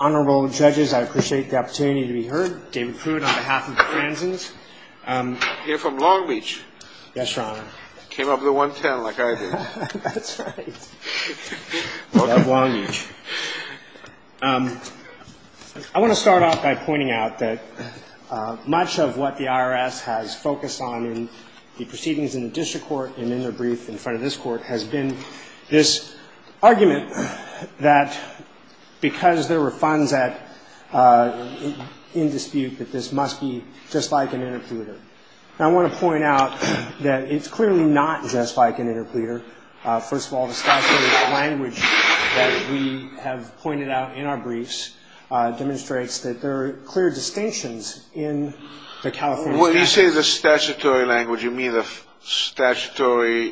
Honorable Judges, I appreciate the opportunity to be heard. David Prude on behalf of the Franzens. I'm here from Long Beach. Yes, Your Honor. Came up with a 1-10 like I did. That's right. I love Long Beach. I want to start off by pointing out that much of what the IRS has focused on in the proceedings in the district court and in their brief in front of this court has been this argument that because there were funds in dispute that this must be just like an interpleader. I want to point out that it's clearly not just like an interpleader. First of all, the statutory language that we have pointed out in our briefs demonstrates that there are clear distinctions in the California statute. When you say the statutory language, you mean the state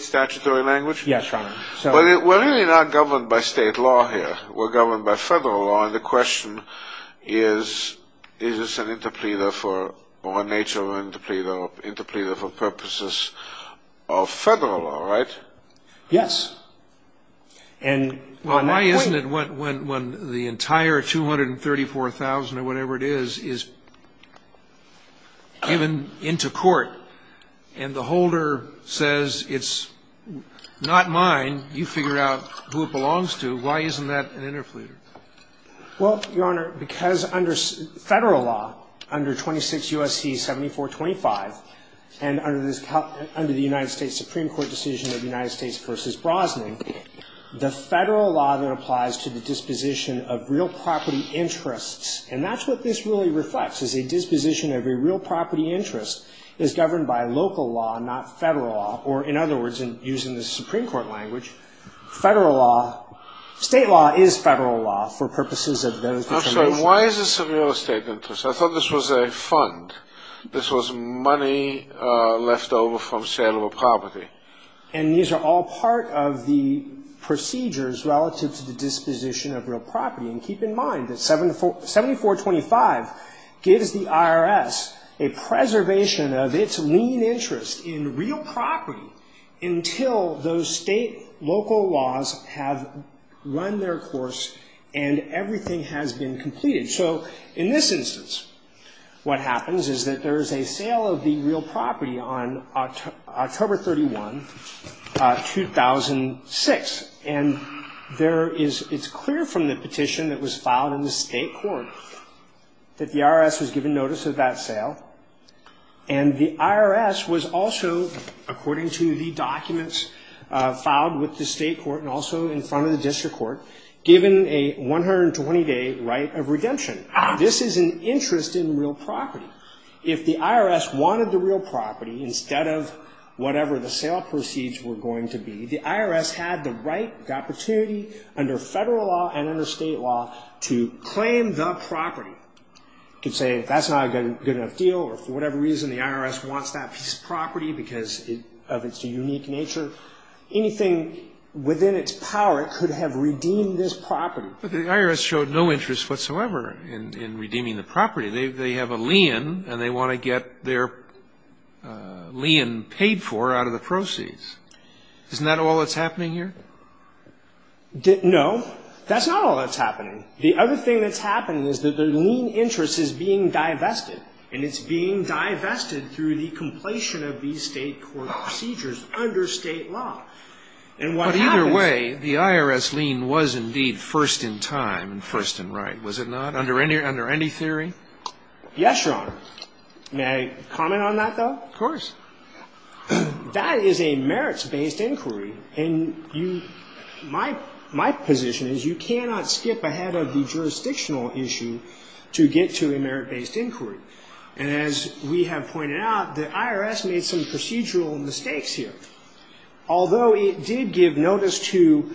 statutory language? Yes, Your Honor. We're really not governed by state law here. We're governed by federal law, and the question is, is this an interpleader or a nature of an interpleader for purposes of federal law, right? Yes. Well, why isn't it when the entire 234,000 or whatever it is is given into court and the holder says it's not mine, you figure out who it belongs to, why isn't that an interpleader? Well, Your Honor, because under federal law, under 26 U.S.C. 7425 and under the United States Supreme Court decision of United States v. Brosnan, the federal law that applies to the disposition of real property interests, and that's what this really reflects, is a disposition of a real property interest is governed by local law, not federal law. Or, in other words, using the Supreme Court language, federal law, state law is federal law for purposes of those... I'm sorry, why is this a real estate interest? I thought this was a fund. This was money left over from sale of a property. And these are all part of the procedures relative to the disposition of real property. And keep in mind that 7425 gives the IRS a preservation of its lien interest in real property until those state, local laws have run their course and everything has been completed. So in this instance, what happens is that there is a sale of the real property on October 31, 2006. And there is, it's clear from the petition that was filed in the state court that the IRS was given notice of that sale. And the IRS was also, according to the documents filed with the state court and also in front of the district court, given a 120-day right of redemption. This is an interest in real property. If the IRS wanted the real property instead of whatever the sale proceeds were going to be, the IRS had the right, the opportunity under federal law and under state law to claim the property. You could say that's not a good enough deal or for whatever reason the IRS wants that piece of property because of its unique nature. Anything within its power could have redeemed this property. But the IRS showed no interest whatsoever in redeeming the property. They have a lien and they want to get their lien paid for out of the proceeds. Isn't that all that's happening here? No. That's not all that's happening. The other thing that's happening is that the lien interest is being divested. And it's being divested through the completion of these state court procedures under state law. But either way, the IRS lien was indeed first in time and first in right, was it not, under any theory? Yes, Your Honor. May I comment on that, though? Of course. That is a merits-based inquiry. And my position is you cannot skip ahead of the jurisdictional issue to get to a merit-based inquiry. And as we have pointed out, the IRS made some procedural mistakes here. Although it did give notice to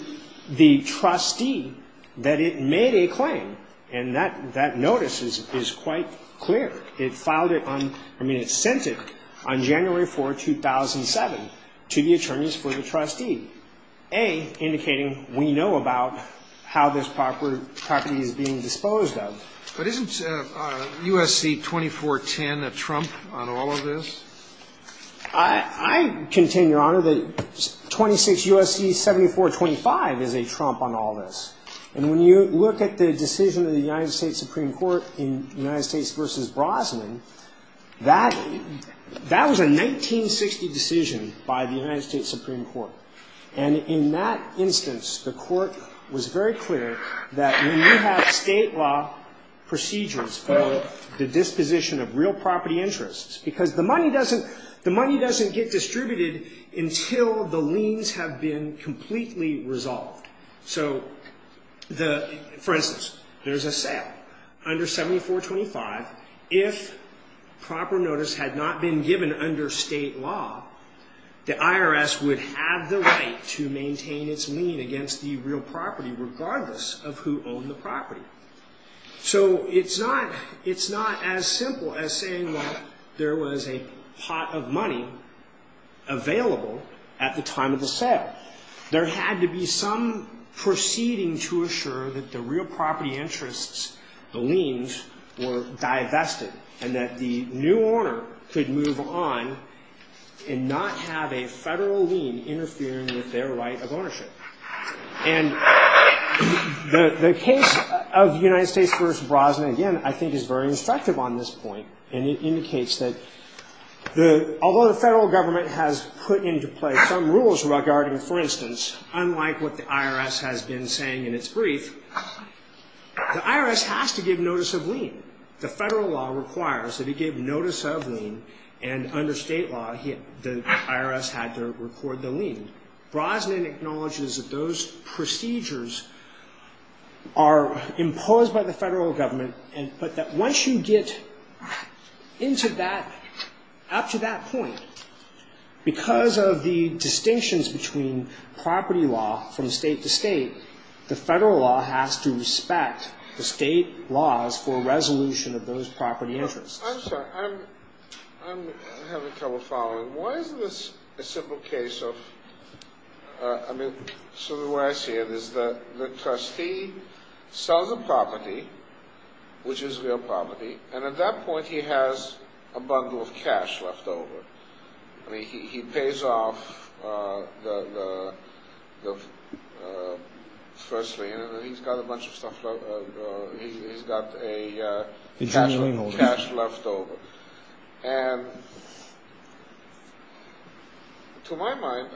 the trustee that it made a claim. And that notice is quite clear. It filed it on – I mean, it sent it on January 4, 2007 to the attorneys for the trustee, A, indicating we know about how this property is being disposed of. But isn't USC 2410 a trump on all of this? I contend, Your Honor, that 26 U.S.C. 7425 is a trump on all this. And when you look at the decision of the United States Supreme Court in United States v. Brosnan, that was a 1960 decision by the United States Supreme Court. And in that instance, the court was very clear that when you have state law procedures for the disposition of real property interests, because the money doesn't get distributed until the liens have been completely resolved. So, for instance, there's a sale under 7425. If proper notice had not been given under state law, the IRS would have the right to maintain its lien against the real property, regardless of who owned the property. So it's not – it's not as simple as saying, well, there was a pot of money available at the time of the sale. There had to be some proceeding to assure that the real property interests, the liens, were divested and that the new owner could move on and not have a federal lien interfering with their right of ownership. And the case of United States v. Brosnan, again, I think is very instructive on this point. And it indicates that although the federal government has put into place some rules regarding, for instance, unlike what the IRS has been saying in its brief, the IRS has to give notice of lien. The federal law requires that it give notice of lien. And under state law, the IRS had to record the lien. Brosnan acknowledges that those procedures are imposed by the federal government, but that once you get into that, up to that point, because of the distinctions between property law from state to state, the federal law has to respect the state laws for resolution of those property interests. I'm sorry. I'm having trouble following. Why is this a simple case of... I mean, sort of the way I see it is that the trustee sells a property, which is real property, and at that point he has a bundle of cash left over. I mean, he pays off the first lien, and then he's got a bunch of stuff left... He's got a cash left over. And to my mind,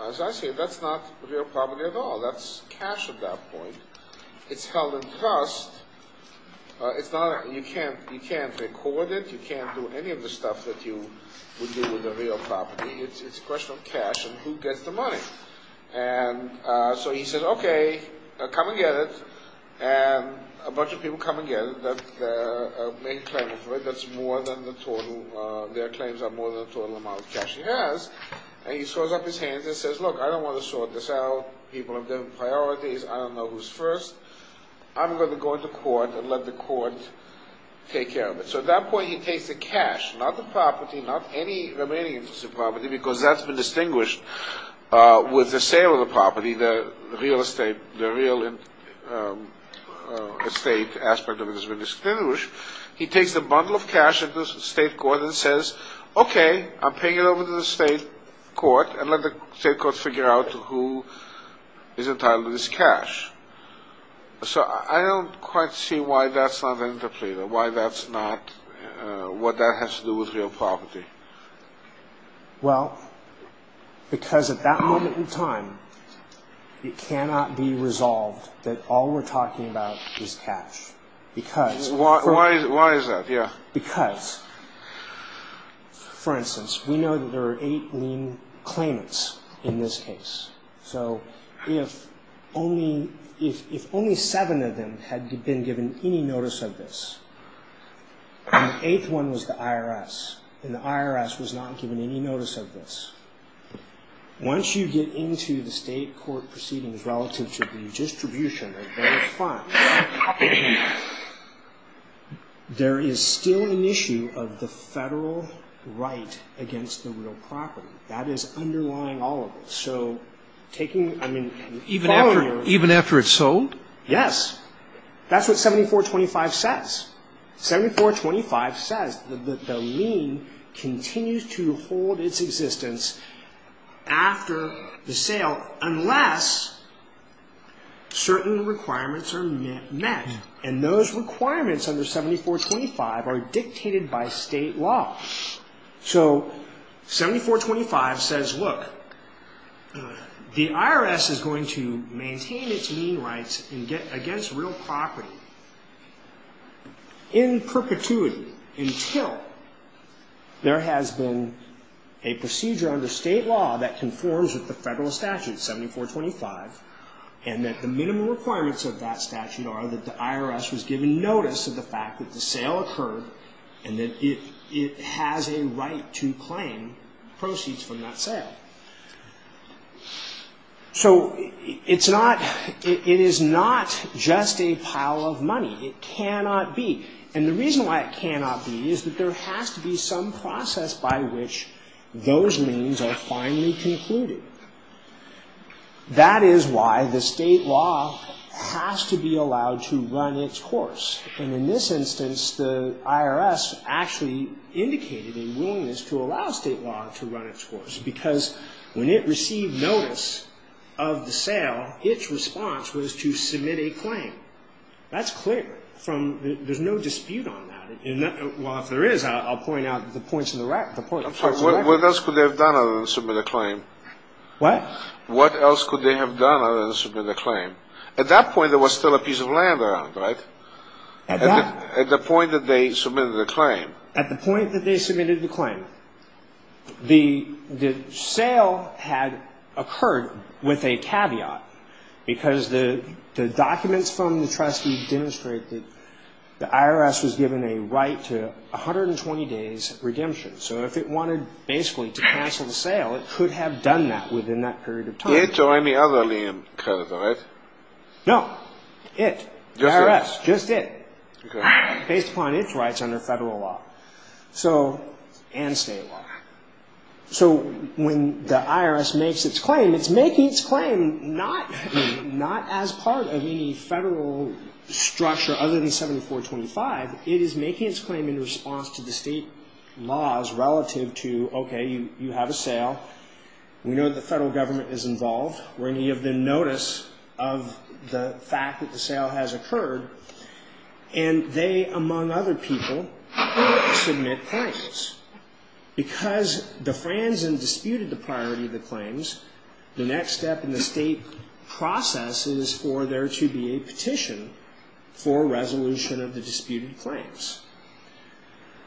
as I see it, that's not real property at all. That's cash at that point. It's held in trust. You can't record it. You can't do any of the stuff that you would do with a real property. It's a question of cash and who gets the money. And so he says, okay, come and get it. And a bunch of people come and get it. That's more than the total. Their claims are more than the total amount of cash he has. And he throws up his hands and says, look, I don't want to sort this out. People have different priorities. I don't know who's first. I'm going to go into court and let the court take care of it. So at that point he takes the cash, not the property, not any remaining interest in property, because that's been distinguished with the sale of the property, the real estate, the real estate aspect of it has been distinguished. He takes the bundle of cash into the state court and says, okay, I'm paying it over to the state court and let the state court figure out who is entitled to this cash. So I don't quite see why that's not an interpreter, what that has to do with real property. Well, because at that moment in time it cannot be resolved that all we're talking about is cash. Why is that? Because, for instance, we know that there are eight lien claimants in this case. So if only seven of them had been given any notice of this, and the eighth one was the IRS, and the IRS was not given any notice of this, once you get into the state court proceedings relative to the distribution of those funds, there is still an issue of the federal right against the real property. That is underlying all of it. So taking, I mean, following your... Even after it's sold? Yes. That's what 7425 says. 7425 says that the lien continues to hold its existence after the sale unless certain requirements are met. And those requirements under 7425 are dictated by state law. So 7425 says, look, the IRS is going to maintain its lien rights against real property in perpetuity until there has been a procedure under state law that conforms with the federal statute, 7425, and that the minimum requirements of that statute are that the IRS was given notice of the fact that the state has a right to claim proceeds from that sale. So it's not, it is not just a pile of money. It cannot be. And the reason why it cannot be is that there has to be some process by which those liens are finally concluded. That is why the state law has to be allowed to run its course. And in this instance, the IRS actually indicated a willingness to allow state law to run its course because when it received notice of the sale, its response was to submit a claim. That's clear. There's no dispute on that. Well, if there is, I'll point out the points in the record. What else could they have done other than submit a claim? What else could they have done other than submit a claim? At that point, there was still a piece of land around, right? At the point that they submitted the claim. At the point that they submitted the claim, the sale had occurred with a caveat because the documents from the trustee demonstrate that the IRS was given a right to 120 days redemption. So if it wanted basically to cancel the sale, it could have done that within that period of time. It or any other lien could have done it. No. It. The IRS. Just it. Based upon its rights under federal law and state law. So when the IRS makes its claim, it's making its claim not as part of any federal structure other than 7425. It is making its claim in response to the state laws relative to, okay, you have a sale. We know the federal government is involved. We're going to give them notice of the fact that the sale has occurred. And they, among other people, submit claims. Because the Fransen disputed the priority of the claims, the next step in the state process is for there to be a petition for resolution of the disputed claims.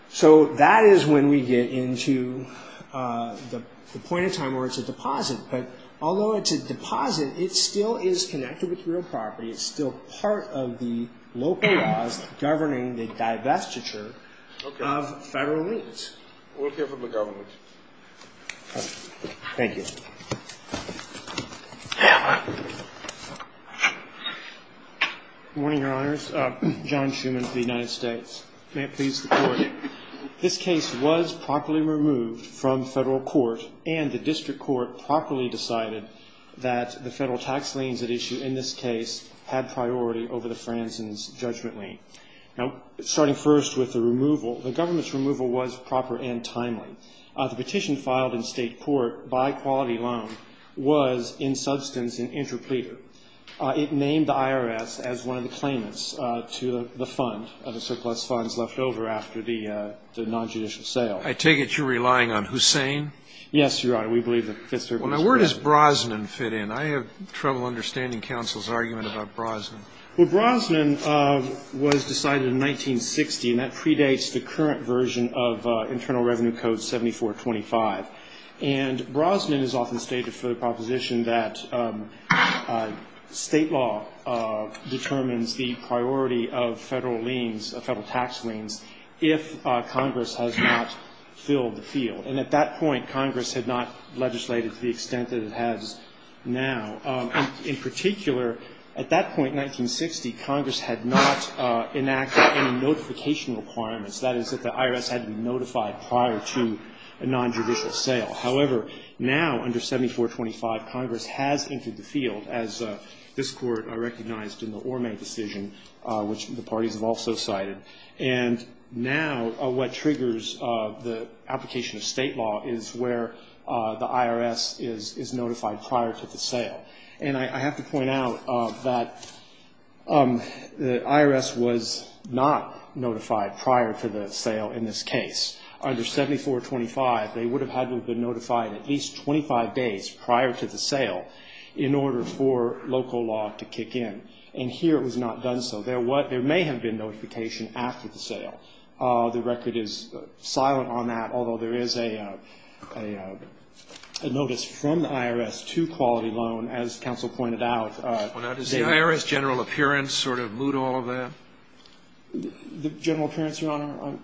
So that is when we get into the point in time where it's a deposit. But although it's a deposit, it still is connected with real property. It's still part of the local laws governing the divestiture of federal liens. Okay. We'll hear from the government. Thank you. Good morning, Your Honors. John Schuman of the United States. May it please the Court. This case was properly removed from federal court, and the district court properly decided that the federal tax liens at issue in this case had priority over the Fransen's judgment lien. Now, starting first with the removal, the government's removal was proper and timely. The petition filed in state court by quality loan was, in substance, an interpleader. It named the IRS as one of the claimants to the fund, the surplus funds left over after the nonjudicial sale. I take it you're relying on Hussain? Yes, Your Honor. We believe that Fitzgerald was. Where does Brosnan fit in? I have trouble understanding counsel's argument about Brosnan. Well, Brosnan was decided in 1960, and that predates the current version of Internal Revenue Code 7425. And Brosnan is often stated for the proposition that state law determines the priority of federal tax liens if Congress has not filled the field. And at that point, Congress had not legislated to the extent that it has now. In particular, at that point, 1960, Congress had not enacted any notification requirements. That is, that the IRS had to be notified prior to a nonjudicial sale. However, now under 7425, Congress has entered the field, as this Court recognized in the Orme decision, which the parties have also cited. And now what triggers the application of state law is where the IRS is notified prior to the sale. And I have to point out that the IRS was not notified prior to the sale in this case. Under 7425, they would have had to have been notified at least 25 days prior to the sale in order for local law to kick in. And here it was not done so. There may have been notification after the sale. The record is silent on that, although there is a notice from the IRS to quality loan, as counsel pointed out. Well, now, does the IRS general appearance sort of moot all of that? The general appearance, Your Honor?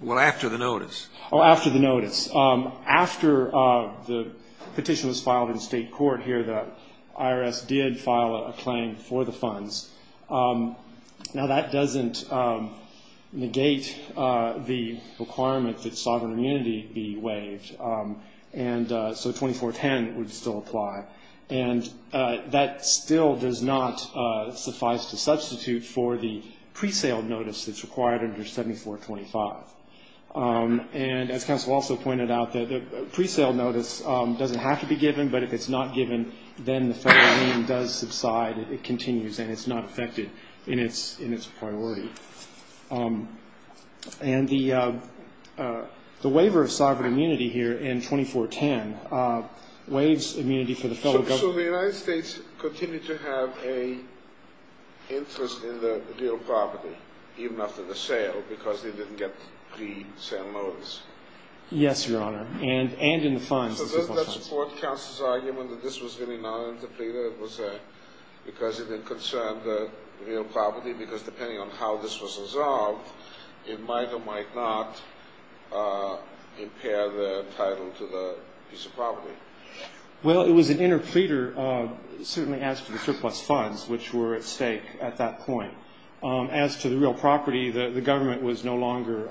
Well, after the notice. Oh, after the notice. After the petition was filed in state court here, the IRS did file a claim for the funds. Now, that doesn't negate the requirement that sovereign immunity be waived, and so 2410 would still apply. And that still does not suffice to substitute for the pre-sale notice that's required under 7425. And as counsel also pointed out, the pre-sale notice doesn't have to be given, but if it's not given, then the federal name does subside, it continues, and it's not affected in its priority. And the waiver of sovereign immunity here in 2410 waives immunity for the federal government. So the United States continued to have an interest in the real property, even after the sale, because they didn't get the pre-sale notice? Yes, Your Honor, and in the funds. So does that support counsel's argument that this was really not an interpleader? It was because it didn't concern the real property? Because depending on how this was resolved, it might or might not impair the title to the piece of property. Well, it was an interpleader, certainly as to the surplus funds, which were at stake at that point. As to the real property, the government was no longer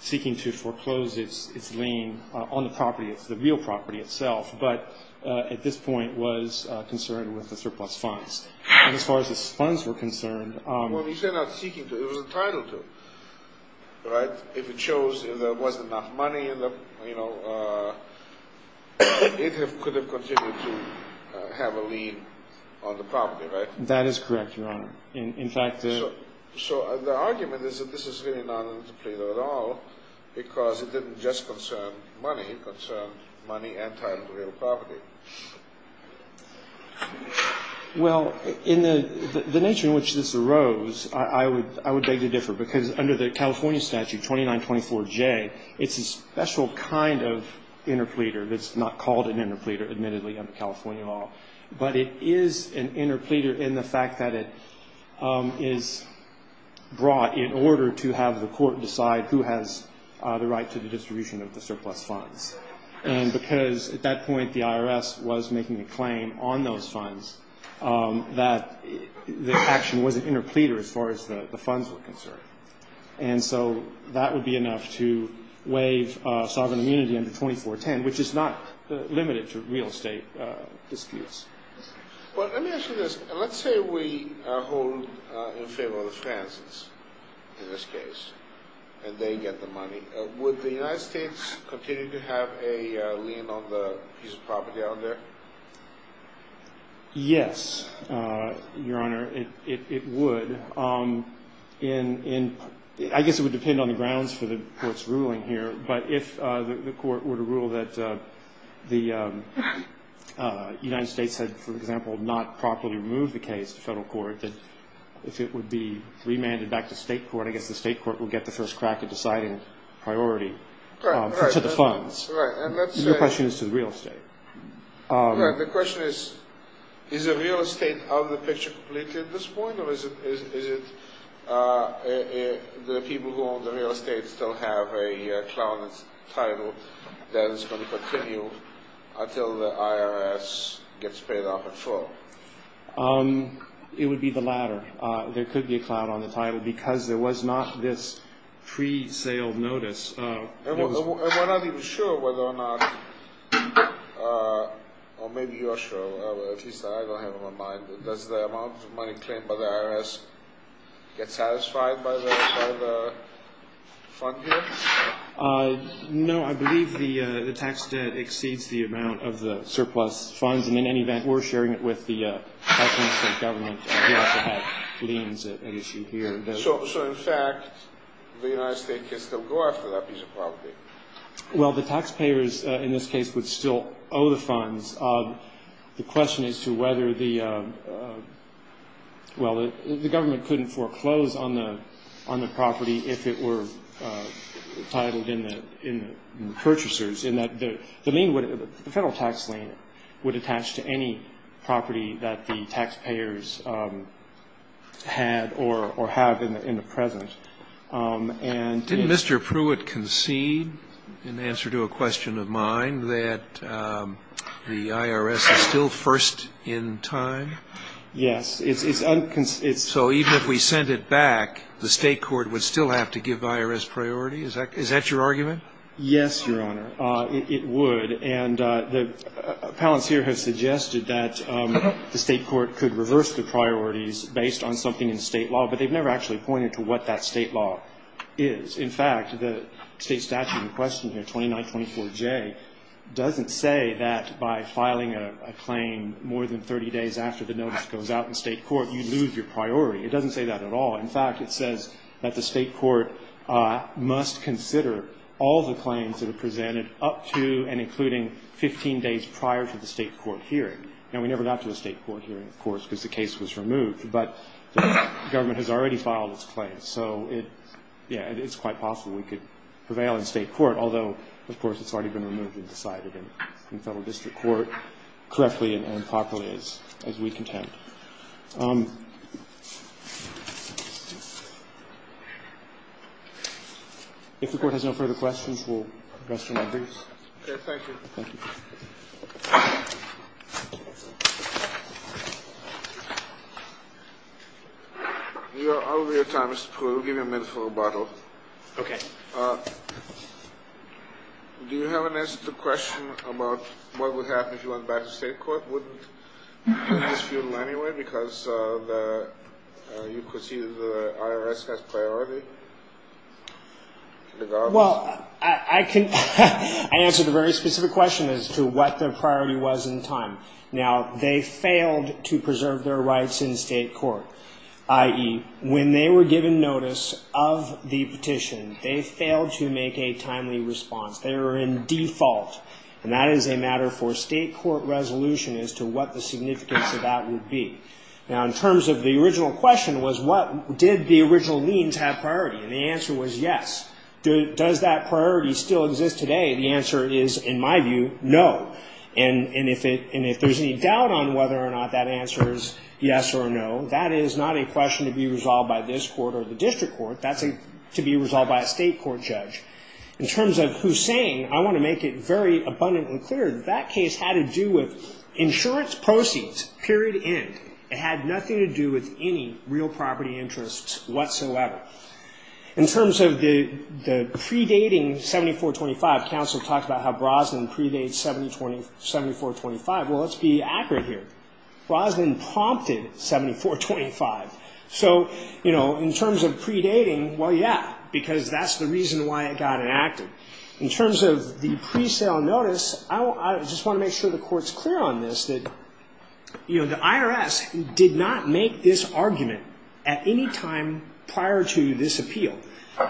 seeking to foreclose its lien on the property. It's the real property itself, but at this point was concerned with the surplus funds. And as far as the funds were concerned. Well, you said not seeking to. It was a title to it, right? If it shows there wasn't enough money, you know, it could have continued to have a lien on the property, right? That is correct, Your Honor. In fact, the. So the argument is that this is really not an interpleader at all, because it didn't just concern money. It concerned money and title to real property. Well, in the nature in which this arose, I would beg to differ, because under the California statute 2924J, it's a special kind of interpleader that's not called an interpleader, admittedly, under California law. But it is an interpleader in the fact that it is brought in order to have the court decide who has the right to the distribution of the surplus funds. And because at that point the IRS was making a claim on those funds that the action was an interpleader as far as the funds were concerned. And so that would be enough to waive sovereign immunity under 2410, which is not limited to real estate disputes. Well, let me ask you this. Let's say we hold in favor of the Frances in this case and they get the money. Would the United States continue to have a lien on the piece of property out there? Yes, Your Honor. It would. I guess it would depend on the grounds for the court's ruling here. But if the court were to rule that the United States had, for example, not properly removed the case to federal court, that if it would be remanded back to state court, I guess the state court would get the first crack at deciding priority to the funds. Your question is to the real estate. The question is, is the real estate of the picture completely at this point? Or is it the people who own the real estate still have a clout on its title that is going to continue until the IRS gets paid off in full? It would be the latter. There could be a clout on the title because there was not this pre-sale notice. And we're not even sure whether or not – or maybe you are sure. At least I don't have it on my mind. Does the amount of money claimed by the IRS get satisfied by the fund here? No, I believe the tax debt exceeds the amount of the surplus funds. And in any event, we're sharing it with the California state government. We also have liens at issue here. So, in fact, the United States could still go after that piece of property? Well, the taxpayers in this case would still owe the funds. The question is to whether the – well, the government couldn't foreclose on the property if it were titled in the purchasers. The federal tax lien would attach to any property that the taxpayers had or have in the present. Didn't Mr. Pruitt concede in answer to a question of mine that the IRS is still first in time? Yes. So even if we sent it back, the state court would still have to give the IRS priority? Is that your argument? Yes, Your Honor. It would. And the appellants here have suggested that the state court could reverse the priorities based on something in state law, but they've never actually pointed to what that state law is. In fact, the state statute in question here, 2924J, doesn't say that by filing a claim more than 30 days after the notice goes out in state court, you lose your priority. It doesn't say that at all. In fact, it says that the state court must consider all the claims that are presented up to and including 15 days prior to the state court hearing. Now, we never got to the state court hearing, of course, because the case was removed, but the government has already filed its claims. So, yeah, it's quite possible we could prevail in state court, If the Court has no further questions, we'll address your matters. Okay. Thank you. Thank you. We are out of your time, Mr. Pruitt. We'll give you a minute for rebuttal. Okay. Do you have an answer to the question about what would happen if you went back to state court? Well, I can answer the very specific question as to what the priority was in time. Now, they failed to preserve their rights in state court, i.e., when they were given notice of the petition, they failed to make a timely response. They were in default. And that is a matter for state court resolution as to what the significance of that would be. Now, in terms of the original question was, did the original liens have priority? And the answer was yes. Does that priority still exist today? The answer is, in my view, no. And if there's any doubt on whether or not that answer is yes or no, that is not a question to be resolved by this court or the district court. That's to be resolved by a state court judge. In terms of Hussain, I want to make it very abundantly clear that that case had to do with insurance proceeds, period, end. It had nothing to do with any real property interests whatsoever. In terms of the predating 7425, counsel talked about how Brosnan predates 7425. Well, let's be accurate here. Brosnan prompted 7425. So, you know, in terms of predating, well, yeah, because that's the reason why it got enacted. In terms of the presale notice, I just want to make sure the court's clear on this, that, you know, the IRS did not make this argument at any time prior to this appeal.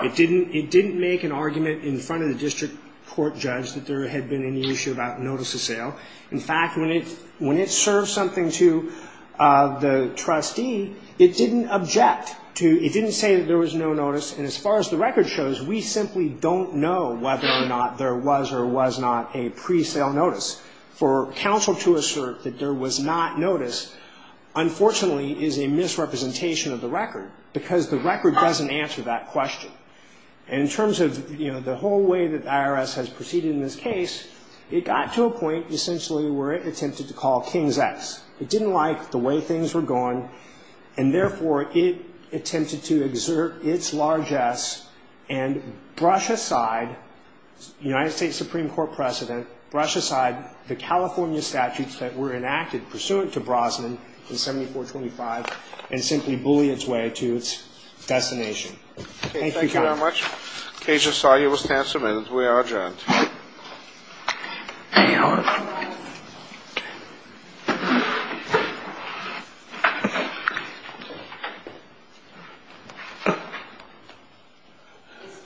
It didn't make an argument in front of the district court judge that there had been any issue about notice of sale. In fact, when it served something to the trustee, it didn't object to, it didn't say that there was no notice. And as far as the record shows, we simply don't know whether or not there was or was not a presale notice. For counsel to assert that there was not notice, unfortunately, is a misrepresentation of the record, because the record doesn't answer that question. And in terms of, you know, the whole way that the IRS has proceeded in this case, it got to a point essentially where it attempted to call King's X. It didn't like the way things were going, and therefore it attempted to exert its largesse and brush aside United States Supreme Court precedent, brush aside the California statutes that were enacted pursuant to Brosnan in 7425, and simply bully its way to its destination. Thank you very much. Thank you, Your Honor. The case is solved. You will stand some minutes. We are adjourned. Any other? No lines. The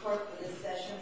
court for this session stands adjourned.